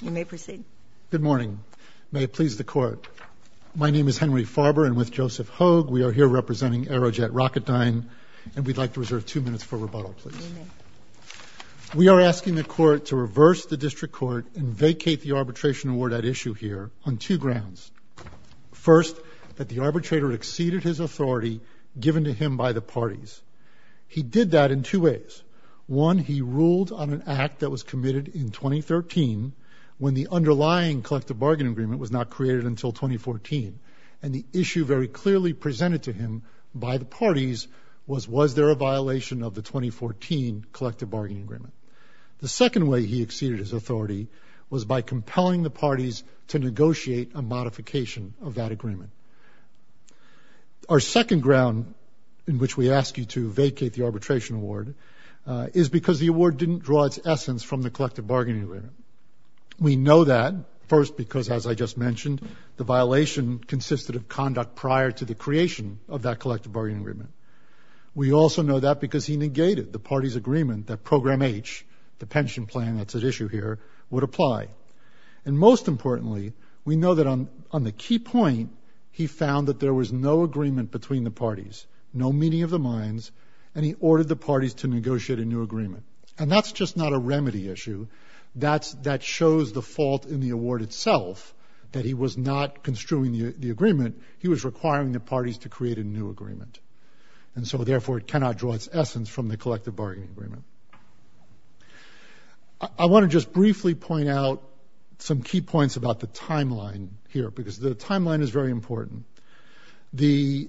Good morning. May it please the Court. My name is Henry Farber, and with Joseph Hoag, we are here representing Aerojet Rocketdyne, and we'd like to reserve two minutes for rebuttal, please. We are asking the Court to reverse the District Court and vacate the arbitration award at issue here on two grounds. First, that the arbitrator exceeded his authority given to him by the parties. He did that in two ways. One, he ruled on an act that was committed in 2013 when the underlying collective bargaining agreement was not created until 2014, and the issue very clearly presented to him by the parties was, was there a violation of the 2014 collective bargaining agreement? The second way he exceeded his authority was by compelling the parties to negotiate a modification of that agreement. Our second ground in which we ask you to vacate the arbitration award is because the award didn't draw its essence from the collective bargaining agreement. We know that, first, because, as I just mentioned, the violation consisted of conduct prior to the creation of that collective bargaining agreement. We also know that because he negated the parties' agreement that Program H, the pension plan that's at issue here, would apply. And most importantly, we know that on the key point, he found that there was no agreement between the parties, no meeting of the minds, and he ordered the parties to negotiate a new agreement. And that's just not a remedy issue. That shows the fault in the award itself, that he was not construing the agreement. He was requiring the parties to create a new agreement. And so, therefore, it cannot draw its essence from the collective bargaining agreement. I want to just briefly point out some key points about the timeline here, because the timeline is very important. The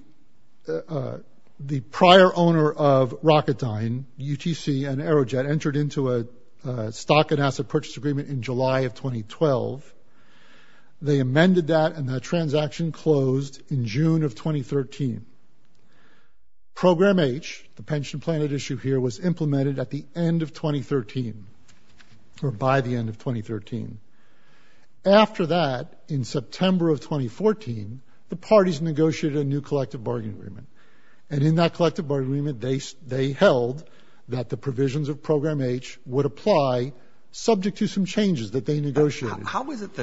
prior owner of Rocketdyne, UTC, and Aerojet entered into a stock and asset purchase agreement in July of 2012. They amended that, and that transaction closed in June of 2013. Program H, the pension plan at issue here, was implemented at the end of 2013, or by the end of 2013. After that, in September of 2014, the parties negotiated a new collective bargaining agreement. And in that collective bargaining agreement, they held that the provisions of Program H would apply, subject to some changes that they negotiated. How is it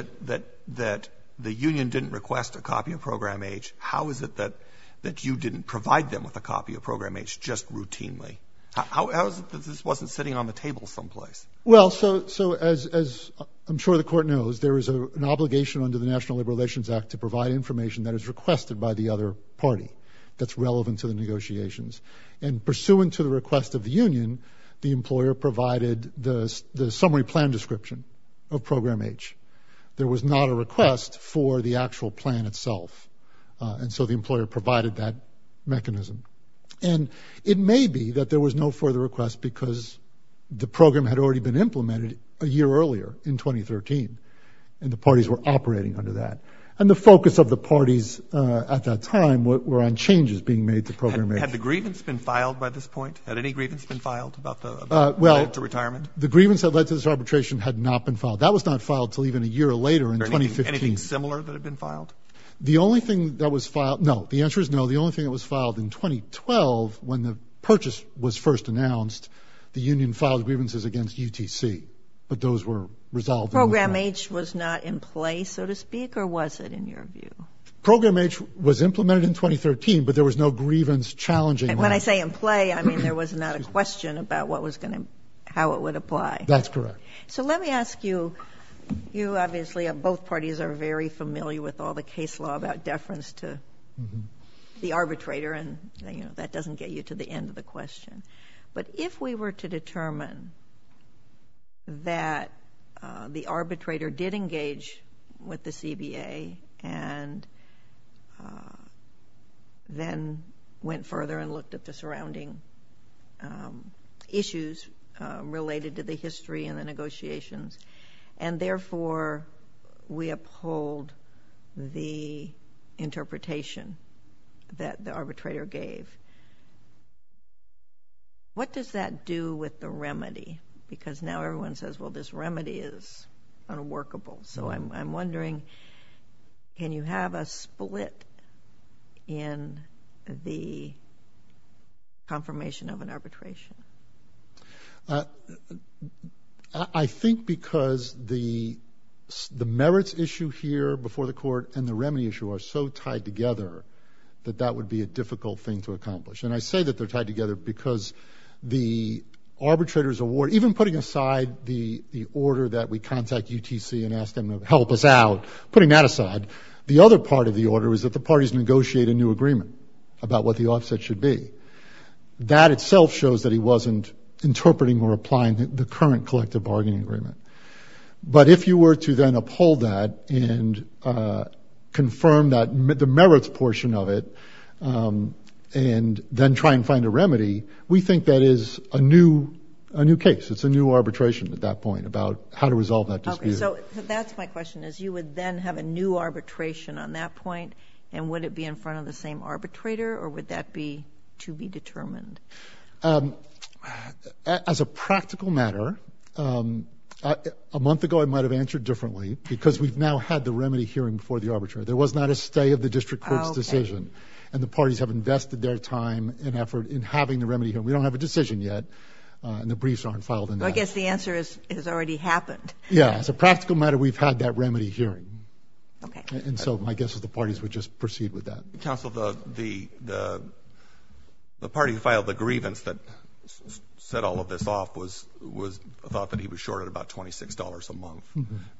that the union didn't request a copy of Program H? How is it that you didn't provide them with a copy of Program H, just routinely? How is it that this wasn't sitting on the table someplace? Well, so, as I'm sure the Court knows, there is an obligation under the National Labor Relations Act to provide information that is requested by the other party that's relevant to the negotiations. And pursuant to the request of the union, the employer provided the summary plan description of Program H. There was not a request for the actual plan itself, and so the employer provided that mechanism. And it may be that there was no further request because the program had already been implemented a year earlier, in 2013, and the parties were operating under that. And the focus of the parties at that time were on changes being made to Program H. Okay, had the grievance been filed by this point? Had any grievance been filed about the, about the retirement? Well, the grievance that led to this arbitration had not been filed. That was not filed until even a year later, in 2015. Anything similar that had been filed? The only thing that was filed, no, the answer is no, the only thing that was filed in 2012, when the purchase was first announced, the union filed grievances against UTC. But those were resolved in the court. Program H was not in place, so to speak? Or was it, in your view? Program H was implemented in 2013, but there was no grievance challenging that. And when I say in play, I mean there was not a question about what was going to, how it would apply. That's correct. So let me ask you, you obviously, both parties are very familiar with all the case law about deference to the arbitrator, and, you know, that doesn't get you to the end of the question. But if we were to determine that the arbitrator did engage with the CBA, and then went further and looked at the surrounding issues related to the history and the negotiations, and therefore we uphold the interpretation that the arbitrator gave, what does that do with the remedy? Because now everyone says, well, this remedy is unworkable. So I'm wondering, can you have a split in the confirmation of an arbitration? I think because the merits issue here before the court and the remedy issue are so tied together that that would be a difficult thing to accomplish. And I say that they're tied together because the arbitrator's award, even putting aside the order that we contact UTC and ask them to help us out, putting that aside, the other part of the order is that the parties negotiate a new agreement about what the offset should be. That itself shows that he wasn't interpreting or applying the current collective bargaining agreement. But if you were to then uphold that and confirm the merits portion of it and then try and find a remedy, we think that is a new case. It's a new arbitration at that point about how to resolve that dispute. Okay, so that's my question, is you would then have a new arbitration on that point, and would it be in front of the same arbitrator or would that be to be determined? As a practical matter, a month ago I might have answered differently because we've now had the remedy hearing before the arbitrator. There was not a stay of the district court's decision, and the parties have invested their time and effort in having the remedy here. We don't have a decision yet, and the briefs aren't filed. I guess the answer is it has already happened. Yeah, as a practical matter, we've had that remedy hearing. And so my guess is the parties would just proceed with that. Counsel, the party who filed the grievance that set all of this off thought that he was shorted about $26 a month.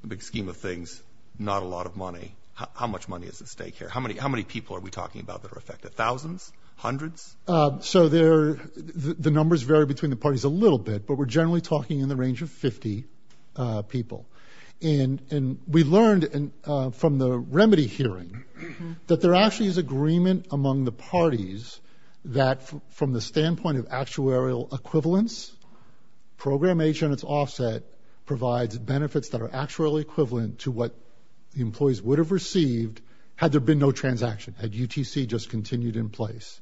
The big scheme of things, not a lot of money. How much money is at stake here? How many people are we talking about that are affected, thousands, hundreds? So the numbers vary between the parties a little bit, but we're generally talking in the range of 50 people. And we learned from the remedy hearing that there actually is agreement among the parties that from the standpoint of actuarial equivalence, Program H on its offset provides benefits that are actuarially equivalent to what the employees would have received had there been no transaction, had UTC just continued in place.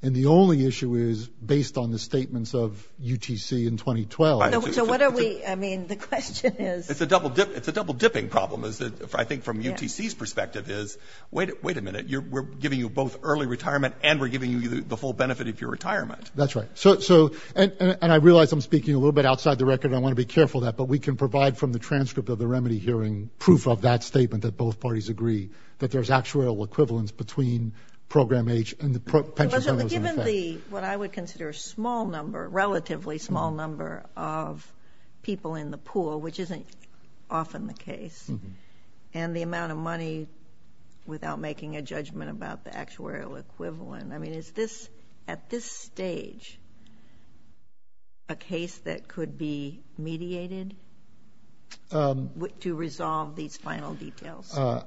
And the only issue is based on the statements of UTC in 2012. So what are we – I mean, the question is – It's a double-dipping problem, I think, from UTC's perspective is, wait a minute. We're giving you both early retirement and we're giving you the full benefit of your retirement. That's right. And I realize I'm speaking a little bit outside the record. I want to be careful of that. But we can provide from the transcript of the remedy hearing proof of that statement that both parties agree that there's actuarial equivalence between Program H and the pension numbers in effect. What I would consider a relatively small number of people in the pool, which isn't often the case, and the amount of money without making a judgment about the actuarial equivalent. I mean, is this, at this stage, a case that could be mediated to resolve these final details? I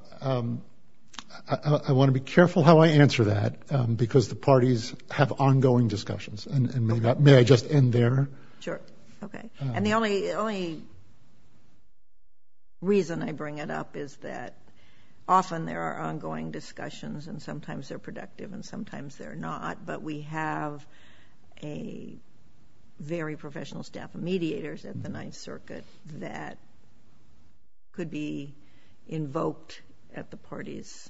want to be careful how I answer that because the parties have ongoing discussions. May I just end there? Sure. Okay. And the only reason I bring it up is that often there are ongoing discussions and sometimes they're productive and sometimes they're not. But we have a very professional staff of mediators at the Ninth Circuit that could be invoked at the party's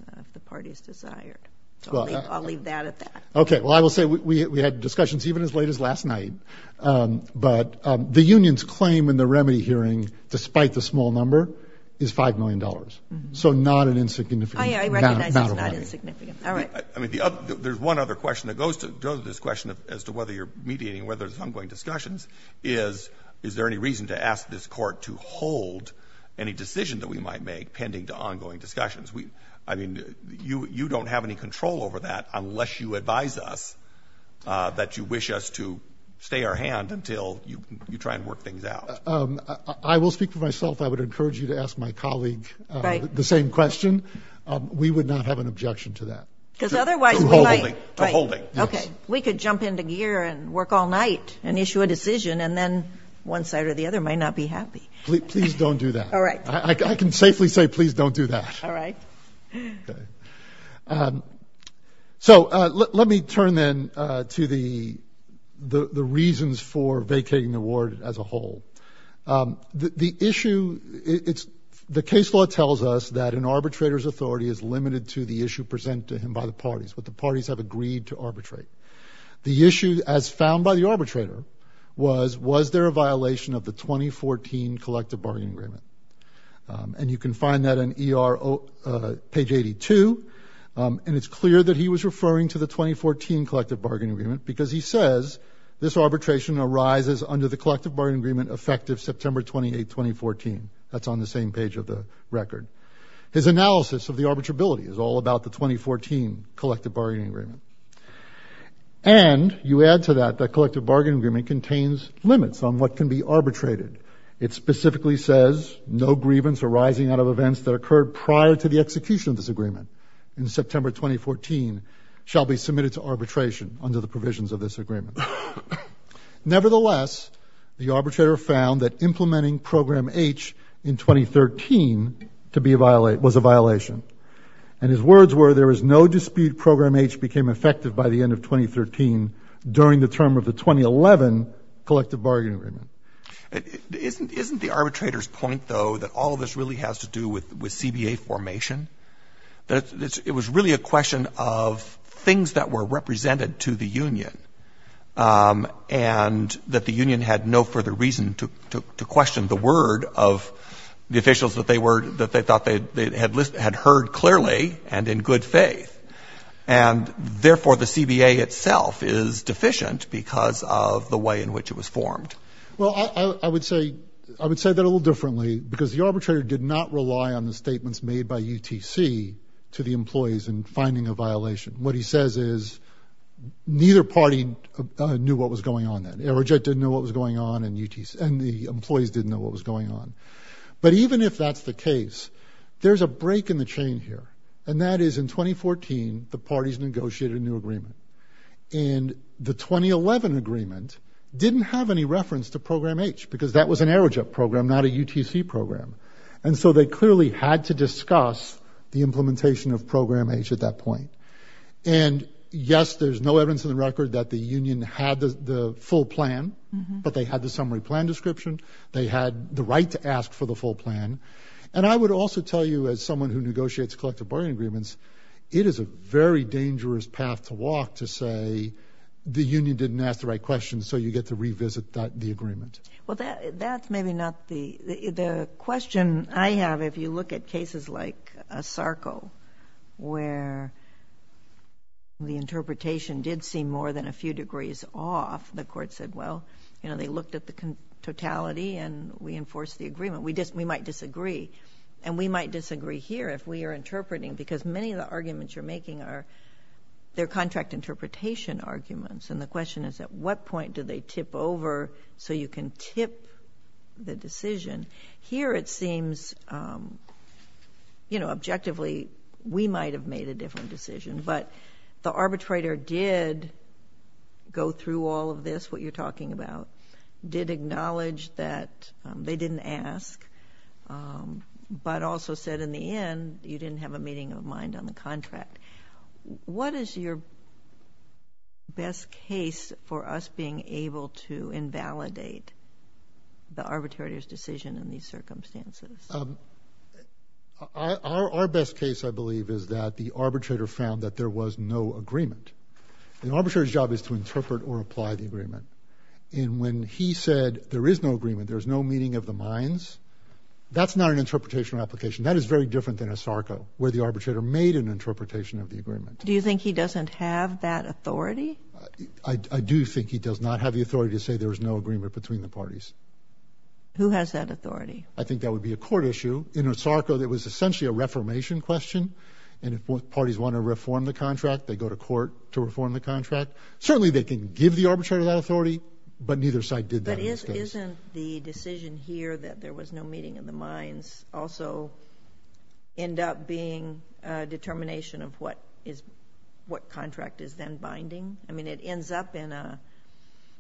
desire. I'll leave that at that. Okay. Well, I will say we had discussions even as late as last night. But the union's claim in the remedy hearing, despite the small number, is $5 million. So not an insignificant amount of money. I recognize it's not insignificant. All right. I mean, there's one other question that goes to this question as to whether you're mediating, whether there's ongoing discussions, is, is there any reason to ask this court to hold any decision that we might make pending to ongoing discussions? I mean, you don't have any control over that unless you advise us that you wish us to stay our hand until you try and work things out. I will speak for myself. I would encourage you to ask my colleague the same question. We would not have an objection to that. Because otherwise we might. To holding. To holding. Okay. We could jump into gear and work all night and issue a decision, and then one side or the other might not be happy. Please don't do that. All right. I can safely say please don't do that. All right. Okay. So let me turn then to the reasons for vacating the ward as a whole. The issue, it's, the case law tells us that an arbitrator's authority is limited to the issue presented to him by the parties. But the parties have agreed to arbitrate. The issue as found by the arbitrator was, was there a violation of the 2014 Collective Bargain Agreement? And you can find that in ER page 82. And it's clear that he was referring to the 2014 Collective Bargain Agreement because he says this arbitration arises under the Collective Bargain Agreement effective September 28, 2014. That's on the same page of the record. His analysis of the arbitrability is all about the 2014 Collective Bargain Agreement. And you add to that the Collective Bargain Agreement contains limits on what can be arbitrated. It specifically says no grievance arising out of events that occurred prior to the execution of this agreement in September 2014 shall be submitted to arbitration under the provisions of this agreement. Nevertheless, the arbitrator found that implementing Program H in 2013 to be a, was a violation. And his words were there is no dispute Program H became effective by the end of 2013 during the term of the 2011 Collective Bargain Agreement. Isn't the arbitrator's point, though, that all of this really has to do with CBA formation? That it was really a question of things that were represented to the union and that the union had no further reason to question the word of the officials that they were, that they thought they had heard clearly and in good faith. And, therefore, the CBA itself is deficient because of the way in which it was formed. Well, I would say that a little differently because the arbitrator did not rely on the statements made by UTC to the employees in finding a violation. What he says is neither party knew what was going on then. Aerojet didn't know what was going on and UTC, and the employees didn't know what was going on. But even if that's the case, there's a break in the chain here. And that is in 2014 the parties negotiated a new agreement. And the 2011 agreement didn't have any reference to Program H because that was an aerojet program, not a UTC program. And so they clearly had to discuss the implementation of Program H at that point. And, yes, there's no evidence in the record that the union had the full plan, but they had the summary plan description. They had the right to ask for the full plan. And I would also tell you as someone who negotiates collective bargaining agreements, it is a very dangerous path to walk to say the union didn't ask the right questions so you get to revisit the agreement. Well, that's maybe not the... The question I have, if you look at cases like ASARCO, where the interpretation did seem more than a few degrees off, the court said, well, you know, they looked at the totality and we enforced the agreement. We might disagree. And we might disagree here if we are interpreting, because many of the arguments you're making are contract interpretation arguments. And the question is at what point do they tip over so you can tip the decision? Here it seems, you know, objectively we might have made a different decision, but the arbitrator did go through all of this, what you're talking about, did acknowledge that they didn't ask, but also said in the end you didn't have a meeting of mind on the contract. What is your best case for us being able to invalidate the arbitrator's decision in these circumstances? Our best case, I believe, is that the arbitrator found that there was no agreement. An arbitrator's job is to interpret or apply the agreement. And when he said there is no agreement, there is no meeting of the minds, that's not an interpretation or application. That is very different than Osarco, where the arbitrator made an interpretation of the agreement. Do you think he doesn't have that authority? I do think he does not have the authority to say there is no agreement between the parties. Who has that authority? I think that would be a court issue. In Osarco, it was essentially a reformation question. And if parties want to reform the contract, they go to court to reform the contract. Certainly they can give the arbitrator that authority, but neither side did that in this case. Isn't the decision here that there was no meeting of the minds also end up being a determination of what contract is then binding? I mean, it ends up in a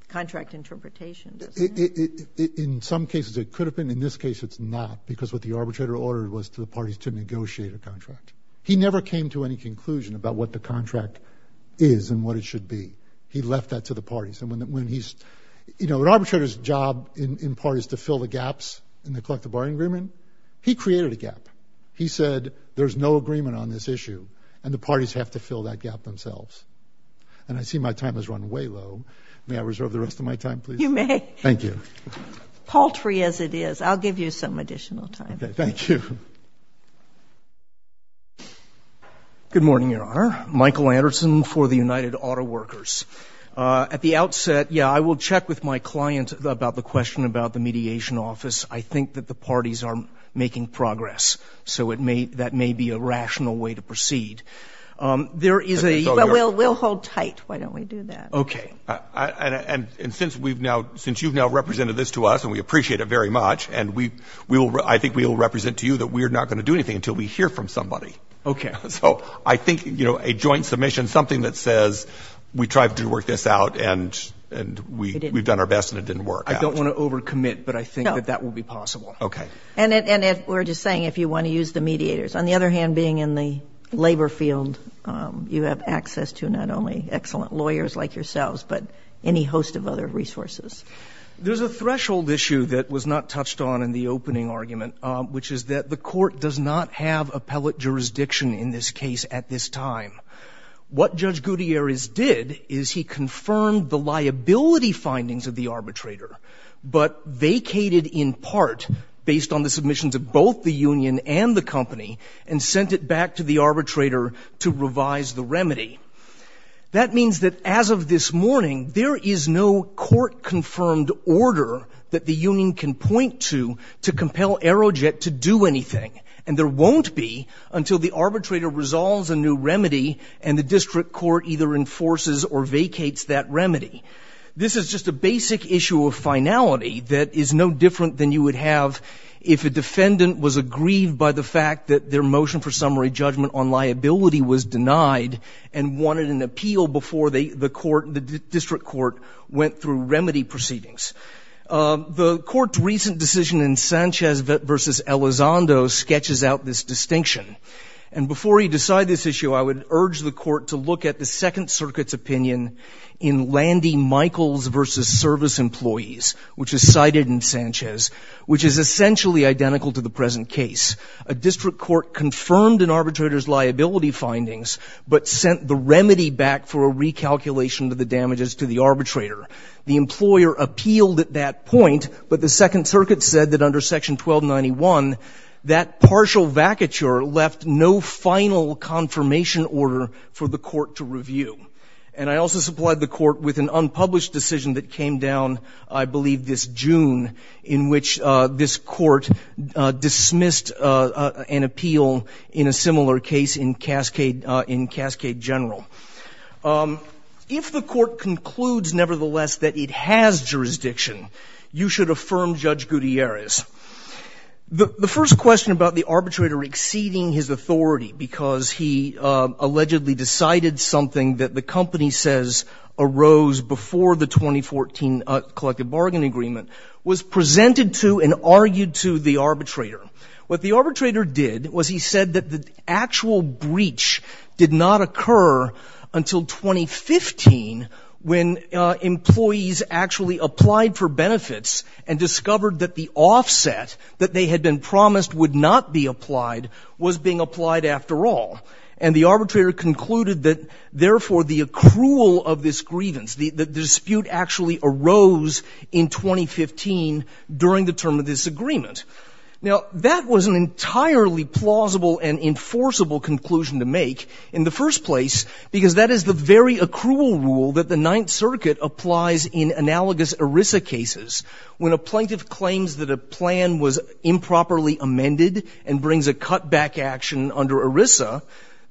contract interpretation, doesn't it? In some cases, it could have been. In this case, it's not because what the arbitrator ordered was for the parties to negotiate a contract. He never came to any conclusion about what the contract is and what it should be. He left that to the parties. An arbitrator's job in part is to fill the gaps in the collective bargaining agreement. He created a gap. He said there's no agreement on this issue, and the parties have to fill that gap themselves. And I see my time has run way low. May I reserve the rest of my time, please? You may. Thank you. Paltry as it is, I'll give you some additional time. Okay, thank you. Good morning, Your Honor. Michael Anderson for the United Auto Workers. At the outset, yeah, I will check with my client about the question about the mediation office. I think that the parties are making progress, so that may be a rational way to proceed. But we'll hold tight. Why don't we do that? Okay. And since you've now represented this to us, and we appreciate it very much, and I think we will represent to you that we are not going to do anything until we hear from somebody. Okay. So I think, you know, a joint submission, something that says we tried to work this out, and we've done our best, and it didn't work out. I don't want to overcommit, but I think that that will be possible. Okay. And we're just saying if you want to use the mediators. On the other hand, being in the labor field, you have access to not only excellent lawyers like yourselves, but any host of other resources. There's a threshold issue that was not touched on in the opening argument, which is that the court does not have appellate jurisdiction in this case at this time. What Judge Gutierrez did is he confirmed the liability findings of the arbitrator, but vacated in part, based on the submissions of both the union and the company, and sent it back to the arbitrator to revise the remedy. That means that as of this morning, there is no court-confirmed order that the union can point to to compel Aerojet to do anything, and there won't be until the arbitrator resolves a new remedy and the district court either enforces or vacates that remedy. This is just a basic issue of finality that is no different than you would have if a defendant was aggrieved by the fact that their motion for summary judgment on liability was denied and wanted an appeal before the court, the district court, went through remedy proceedings. The court's recent decision in Sanchez v. Elizondo sketches out this distinction. And before we decide this issue, I would urge the court to look at the Second Circuit's opinion in Landy Michaels v. Service Employees, which is cited in Sanchez, which is essentially identical to the present case. A district court confirmed an arbitrator's liability findings, but sent the remedy back for a recalculation of the damages to the arbitrator. The employer appealed at that point, but the Second Circuit said that under Section 1291, that partial vacature left no final confirmation order for the court to review. And I also supplied the court with an unpublished decision that came down, I believe, this June, in which this court dismissed an appeal in a similar case in Cascade General. If the court concludes, nevertheless, that it has jurisdiction, you should affirm Judge Gutierrez. The first question about the arbitrator exceeding his authority because he allegedly decided something that the company says arose before the 2014 collective bargain agreement was presented to and argued to the arbitrator. What the arbitrator did was he said that the actual breach did not occur until 2015 when employees actually applied for benefits and discovered that the offset that they had been promised would not be applied was being applied after all. And the arbitrator concluded that, therefore, the accrual of this grievance, the dispute actually arose in 2015 during the term of this agreement. Now, that was an entirely plausible and enforceable conclusion to make in the first place because that is the very accrual rule that the Ninth Circuit applies in analogous ERISA cases. When a plaintiff claims that a plan was improperly amended and brings a cutback action under ERISA,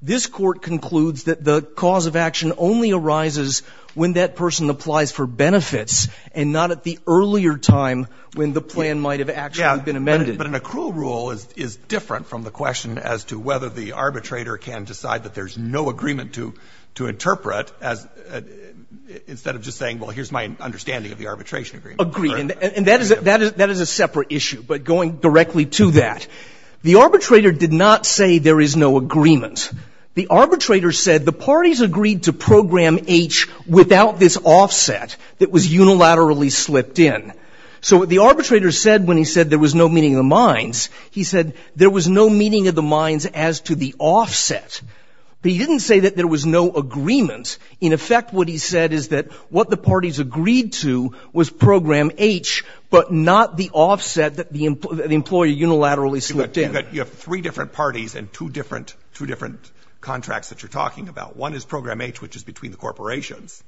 this Court concludes that the cause of action only arises when that person applies for benefits and not at the earlier time when the plan might have actually been amended. Breyer. But an accrual rule is different from the question as to whether the arbitrator can decide that there is no agreement to interpret as, instead of just saying, well, here's my understanding of the arbitration agreement. Agreed. And that is a separate issue, but going directly to that. The arbitrator did not say there is no agreement. The arbitrator said the parties agreed to Program H without this offset that was unilaterally slipped in. So what the arbitrator said when he said there was no meeting of the minds, he said there was no meeting of the minds as to the offset. But he didn't say that there was no agreement. In effect, what he said is that what the parties agreed to was Program H, but not the offset that the employee unilaterally slipped in. But you have three different parties and two different contracts that you're talking about. One is Program H, which is between the corporations,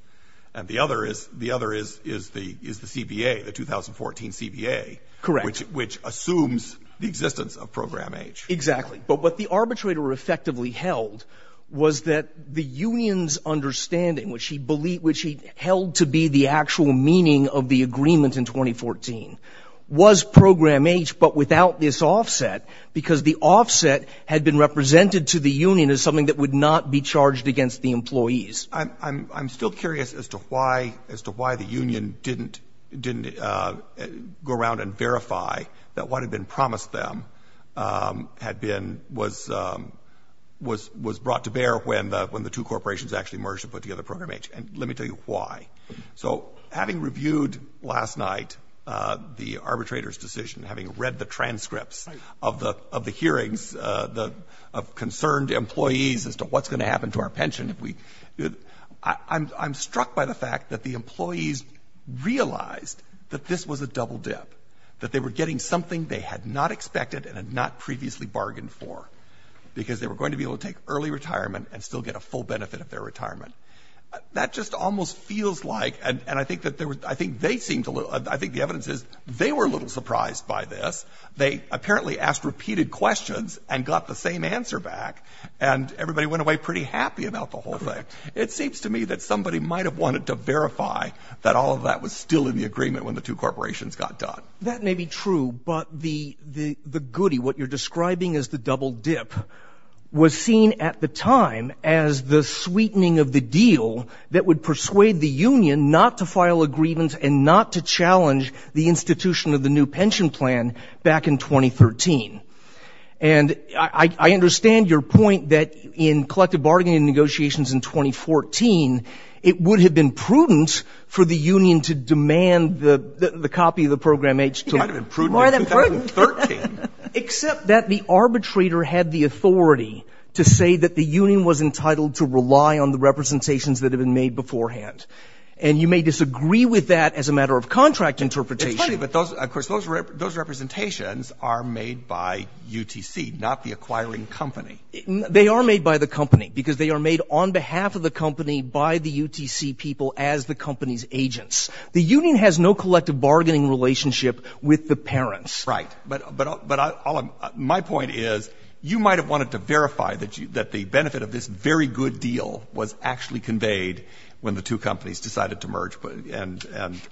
and the other is the CBA, the 2014 CBA. Correct. Which assumes the existence of Program H. Exactly. But what the arbitrator effectively held was that the union's understanding, which he held to be the actual meaning of the agreement in 2014, was Program H, but without this offset, because the offset had been represented to the union as something that would not be charged against the employees. I'm still curious as to why the union didn't go around and verify that what had been promised them had been, was brought to bear when the two corporations actually merged to put together Program H. And let me tell you why. So having reviewed last night the arbitrator's decision, having read the transcripts of the hearings of concerned employees as to what's going to happen to our pension, I'm struck by the fact that the employees realized that this was a double dip, that they were getting something they had not expected and had not previously bargained for, because they were going to be able to take early retirement and still get a full benefit of their retirement. That just almost feels like, and I think the evidence is, they were a little surprised by this. They apparently asked repeated questions and got the same answer back, and everybody went away pretty happy about the whole thing. It seems to me that somebody might have wanted to verify that all of that was still in the agreement when the two corporations got done. That may be true, but the goody, what you're describing as the double dip, was seen at the time as the sweetening of the deal that would persuade the union not to file a grievance and not to challenge the institution of the new pension plan back in 2013. And I understand your point that in collective bargaining negotiations in 2014, it would have been prudent for the union to demand the copy of the Program H in 2013. Except that the arbitrator had the authority to say that the union was entitled to rely on the representations that had been made beforehand. And you may disagree with that as a matter of contract interpretation. It's funny, but of course those representations are made by UTC, not the acquiring company. They are made by the company, because they are made on behalf of the company by the UTC people as the company's agents. The union has no collective bargaining relationship with the parents. Right. But my point is, you might have wanted to verify that the benefit of this very good deal was actually conveyed when the two companies decided to merge and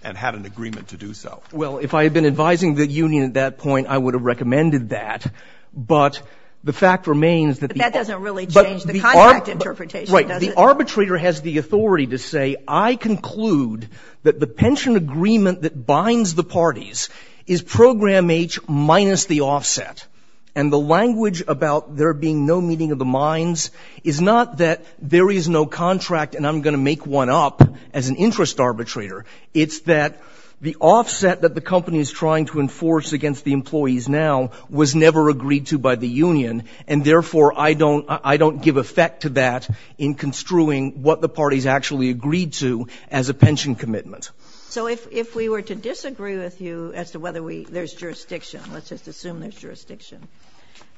had an agreement to do so. Well, if I had been advising the union at that point, I would have recommended that. But the fact remains that the arbitrator has the authority to say, I conclude that the pension agreement that binds the parties is Program H minus the offset. And the language about there being no meeting of the minds is not that there is no contract and I'm going to make one up as an interest arbitrator. It's that the offset that the company is trying to enforce against the employees now was never agreed to by the union, and therefore I don't give effect to that in construing what the parties actually agreed to as a pension commitment. So if we were to disagree with you as to whether there's jurisdiction, let's just assume there's jurisdiction,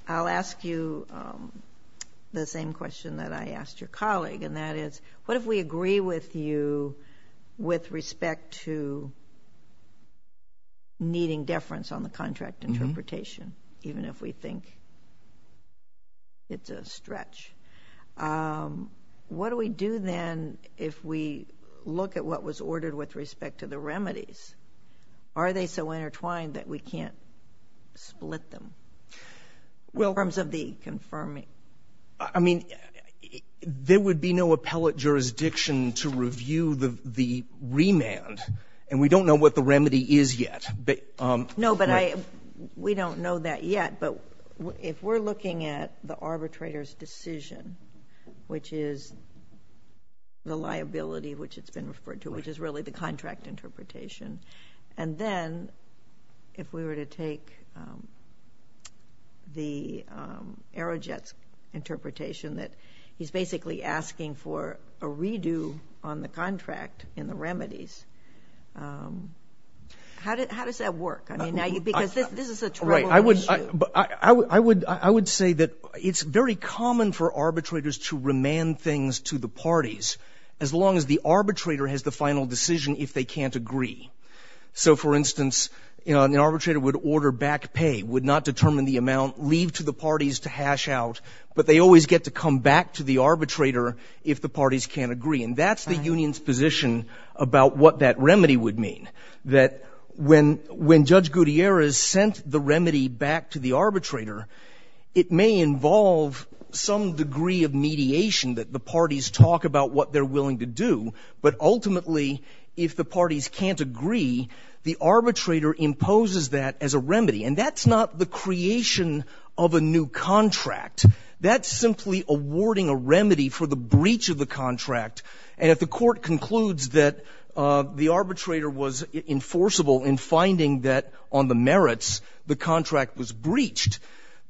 I'll ask you the same question that I asked your colleague, and that is what if we agree with you with respect to needing deference on the contract interpretation, even if we think it's a stretch? What do we do then if we look at what was ordered with respect to the remedies? Are they so intertwined that we can't split them in terms of the confirming? I mean, there would be no appellate jurisdiction to review the remand, and we don't know what the remedy is yet. No, but we don't know that yet. But if we're looking at the arbitrator's decision, which is the liability which it's been referred to, which is really the contract interpretation, and then if we were to take the Aerojet's interpretation that he's basically asking for a redo on the contract in the remedies, how does that work? I mean, because this is a troubled issue. Right. I would say that it's very common for arbitrators to remand things to the parties as long as the arbitrator has the final decision if they can't agree. So, for instance, an arbitrator would order back pay, would not determine the amount, leave to the parties to hash out, but they always get to come back to the arbitrator if the parties can't agree. And that's the union's position about what that remedy would mean, that when Judge Gutierrez sent the remedy back to the arbitrator, it may involve some degree of mediation, that the parties talk about what they're willing to do, but ultimately if the parties can't agree, the arbitrator imposes that as a remedy. And that's not the creation of a new contract. That's simply awarding a remedy for the breach of the contract. And if the court concludes that the arbitrator was enforceable in finding that, on the merits, the contract was breached,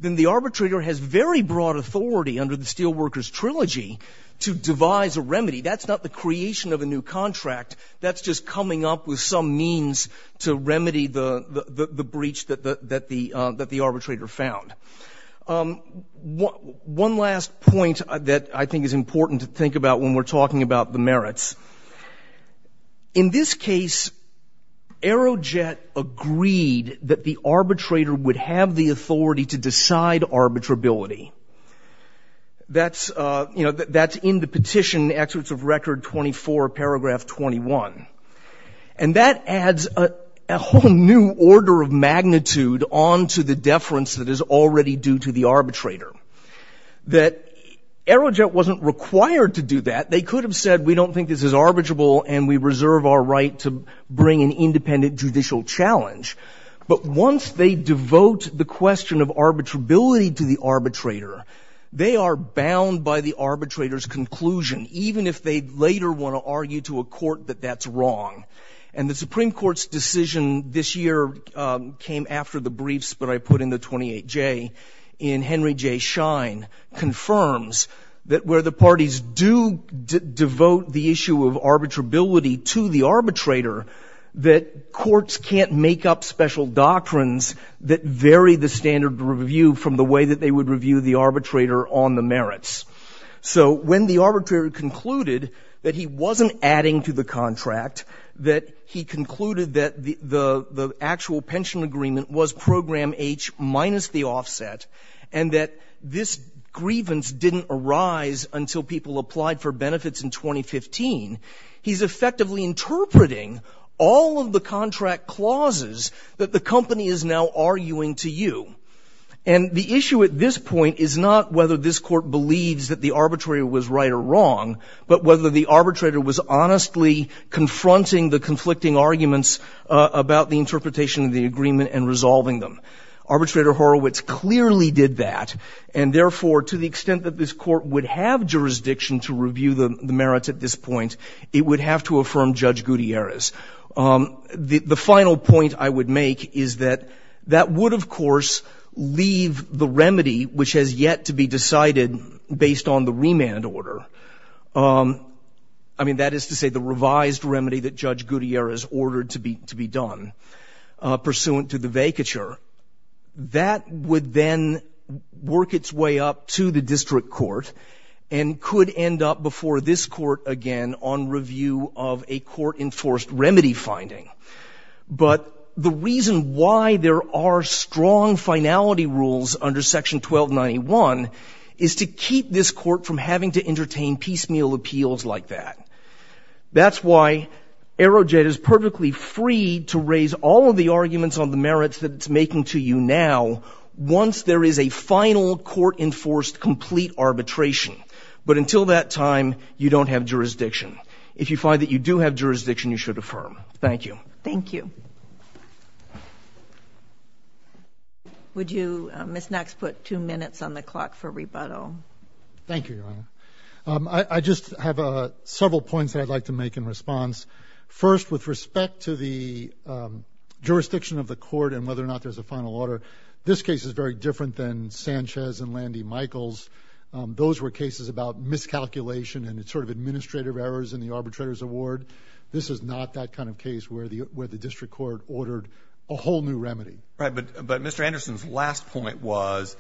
then the arbitrator has very broad authority under the Steelworkers Trilogy to devise a remedy. That's not the creation of a new contract. That's just coming up with some means to remedy the breach that the arbitrator found. One last point that I think is important to think about when we're talking about the merits. In this case, Aerojet agreed that the arbitrator would have the authority to decide arbitrability. That's in the petition, Excerpts of Record 24, Paragraph 21. And that adds a whole new order of magnitude onto the deference that is already due to the arbitrator. Aerojet wasn't required to do that. They could have said, we don't think this is arbitrable and we reserve our right to bring an independent judicial challenge. But once they devote the question of arbitrability to the arbitrator, they are bound by the arbitrator's conclusion, even if they later want to argue to a court that that's wrong. And the Supreme Court's decision this year came after the briefs that I put in the 28J in Henry J. Shine confirms that where the parties do devote the issue of arbitrability to the arbitrator, that courts can't make up special doctrines that vary the standard of review from the way that they would review the arbitrator on the merits. So when the arbitrator concluded that he wasn't adding to the contract, that he concluded that the actual pension agreement was Program H minus the offset, and that this grievance didn't arise until people applied for benefits in 2015, he's effectively interpreting all of the contract clauses that the company is now arguing to you. And the issue at this point is not whether this court believes that the arbitrator was right or wrong, but whether the arbitrator was honestly confronting the conflicting arguments about the interpretation of the agreement and resolving them. Arbitrator Horowitz clearly did that, and therefore to the extent that this court would have jurisdiction to review the merits at this point, it would have to affirm Judge Gutierrez. The final point I would make is that that would, of course, leave the remedy which has yet to be decided based on the remand order. I mean, that is to say the revised remedy that Judge Gutierrez ordered to be done pursuant to the vacature. That would then work its way up to the district court and could end up before this court again on review of a court-enforced remedy finding. But the reason why there are strong finality rules under Section 1291 is to keep this court from having to entertain piecemeal appeals like that. That's why Aerojet is perfectly free to raise all of the arguments on the merits that it's making to you now once there is a final court-enforced complete arbitration. But until that time, you don't have jurisdiction. If you find that you do have jurisdiction, you should affirm. Thank you. Thank you. Would you, Ms. Knox, put two minutes on the clock for rebuttal? Thank you, Your Honor. I just have several points that I'd like to make in response. First, with respect to the jurisdiction of the court and whether or not there's a final order, this case is very different than Sanchez and Landy Michaels. Those were cases about miscalculation and sort of administrative errors in the arbitrator's award. This is not that kind of case where the district court ordered a whole new remedy. Right. But Mr. Anderson's last point was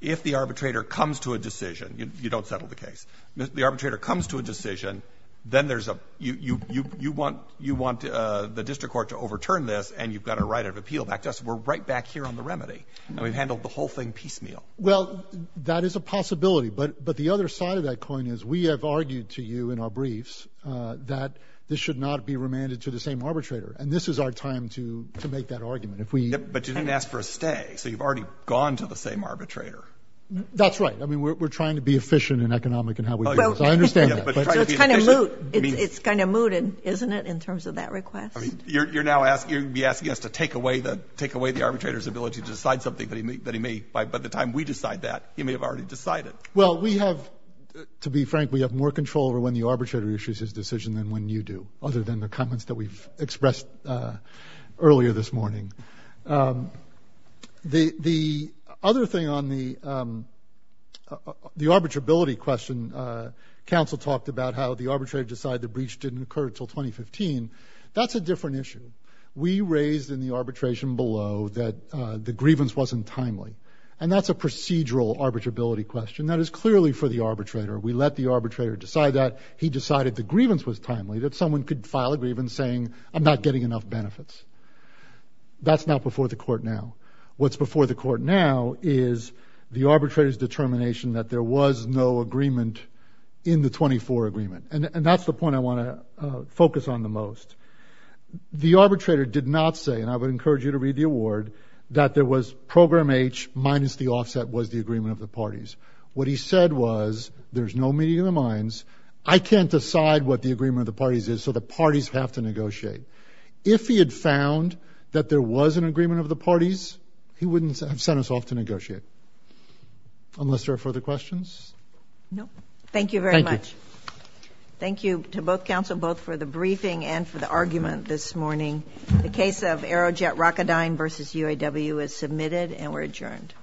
if the arbitrator comes to a decision, you don't settle the case. If the arbitrator comes to a decision, then you want the district court to overturn this and you've got a right of appeal back to us. We're right back here on the remedy, and we've handled the whole thing piecemeal. Well, that is a possibility. But the other side of that coin is we have argued to you in our briefs that this should not be remanded to the same arbitrator, and this is our time to make that argument. But you didn't ask for a stay, so you've already gone to the same arbitrator. That's right. I mean, we're trying to be efficient and economic in how we do this. I understand that. So it's kind of moot, isn't it, in terms of that request? You're now asking us to take away the arbitrator's ability to decide something that he may, by the time we decide that, he may have already decided. Well, we have, to be frank, we have more control over when the arbitrator issues his decision than when you do, other than the comments that we've expressed earlier this morning. The other thing on the arbitrability question, counsel talked about how the arbitrator decided the breach didn't occur until 2015. That's a different issue. We raised in the arbitration below that the grievance wasn't timely, and that's a procedural arbitrability question. That is clearly for the arbitrator. We let the arbitrator decide that. He decided the grievance was timely, that someone could file a grievance saying, I'm not getting enough benefits. That's not before the court now. What's before the court now is the arbitrator's determination that there was no agreement in the 24 agreement, and that's the point I want to focus on the most. The arbitrator did not say, and I would encourage you to read the award, that there was program H minus the offset was the agreement of the parties. What he said was, there's no meeting of the minds. I can't decide what the agreement of the parties is, so the parties have to negotiate. If he had found that there was an agreement of the parties, he wouldn't have sent us off to negotiate. Unless there are further questions? No. Thank you very much. Thank you. Thank you to both counsel, both for the briefing and for the argument this morning. The case of Aerojet Rocketdyne v. UAW is submitted and we're adjourned.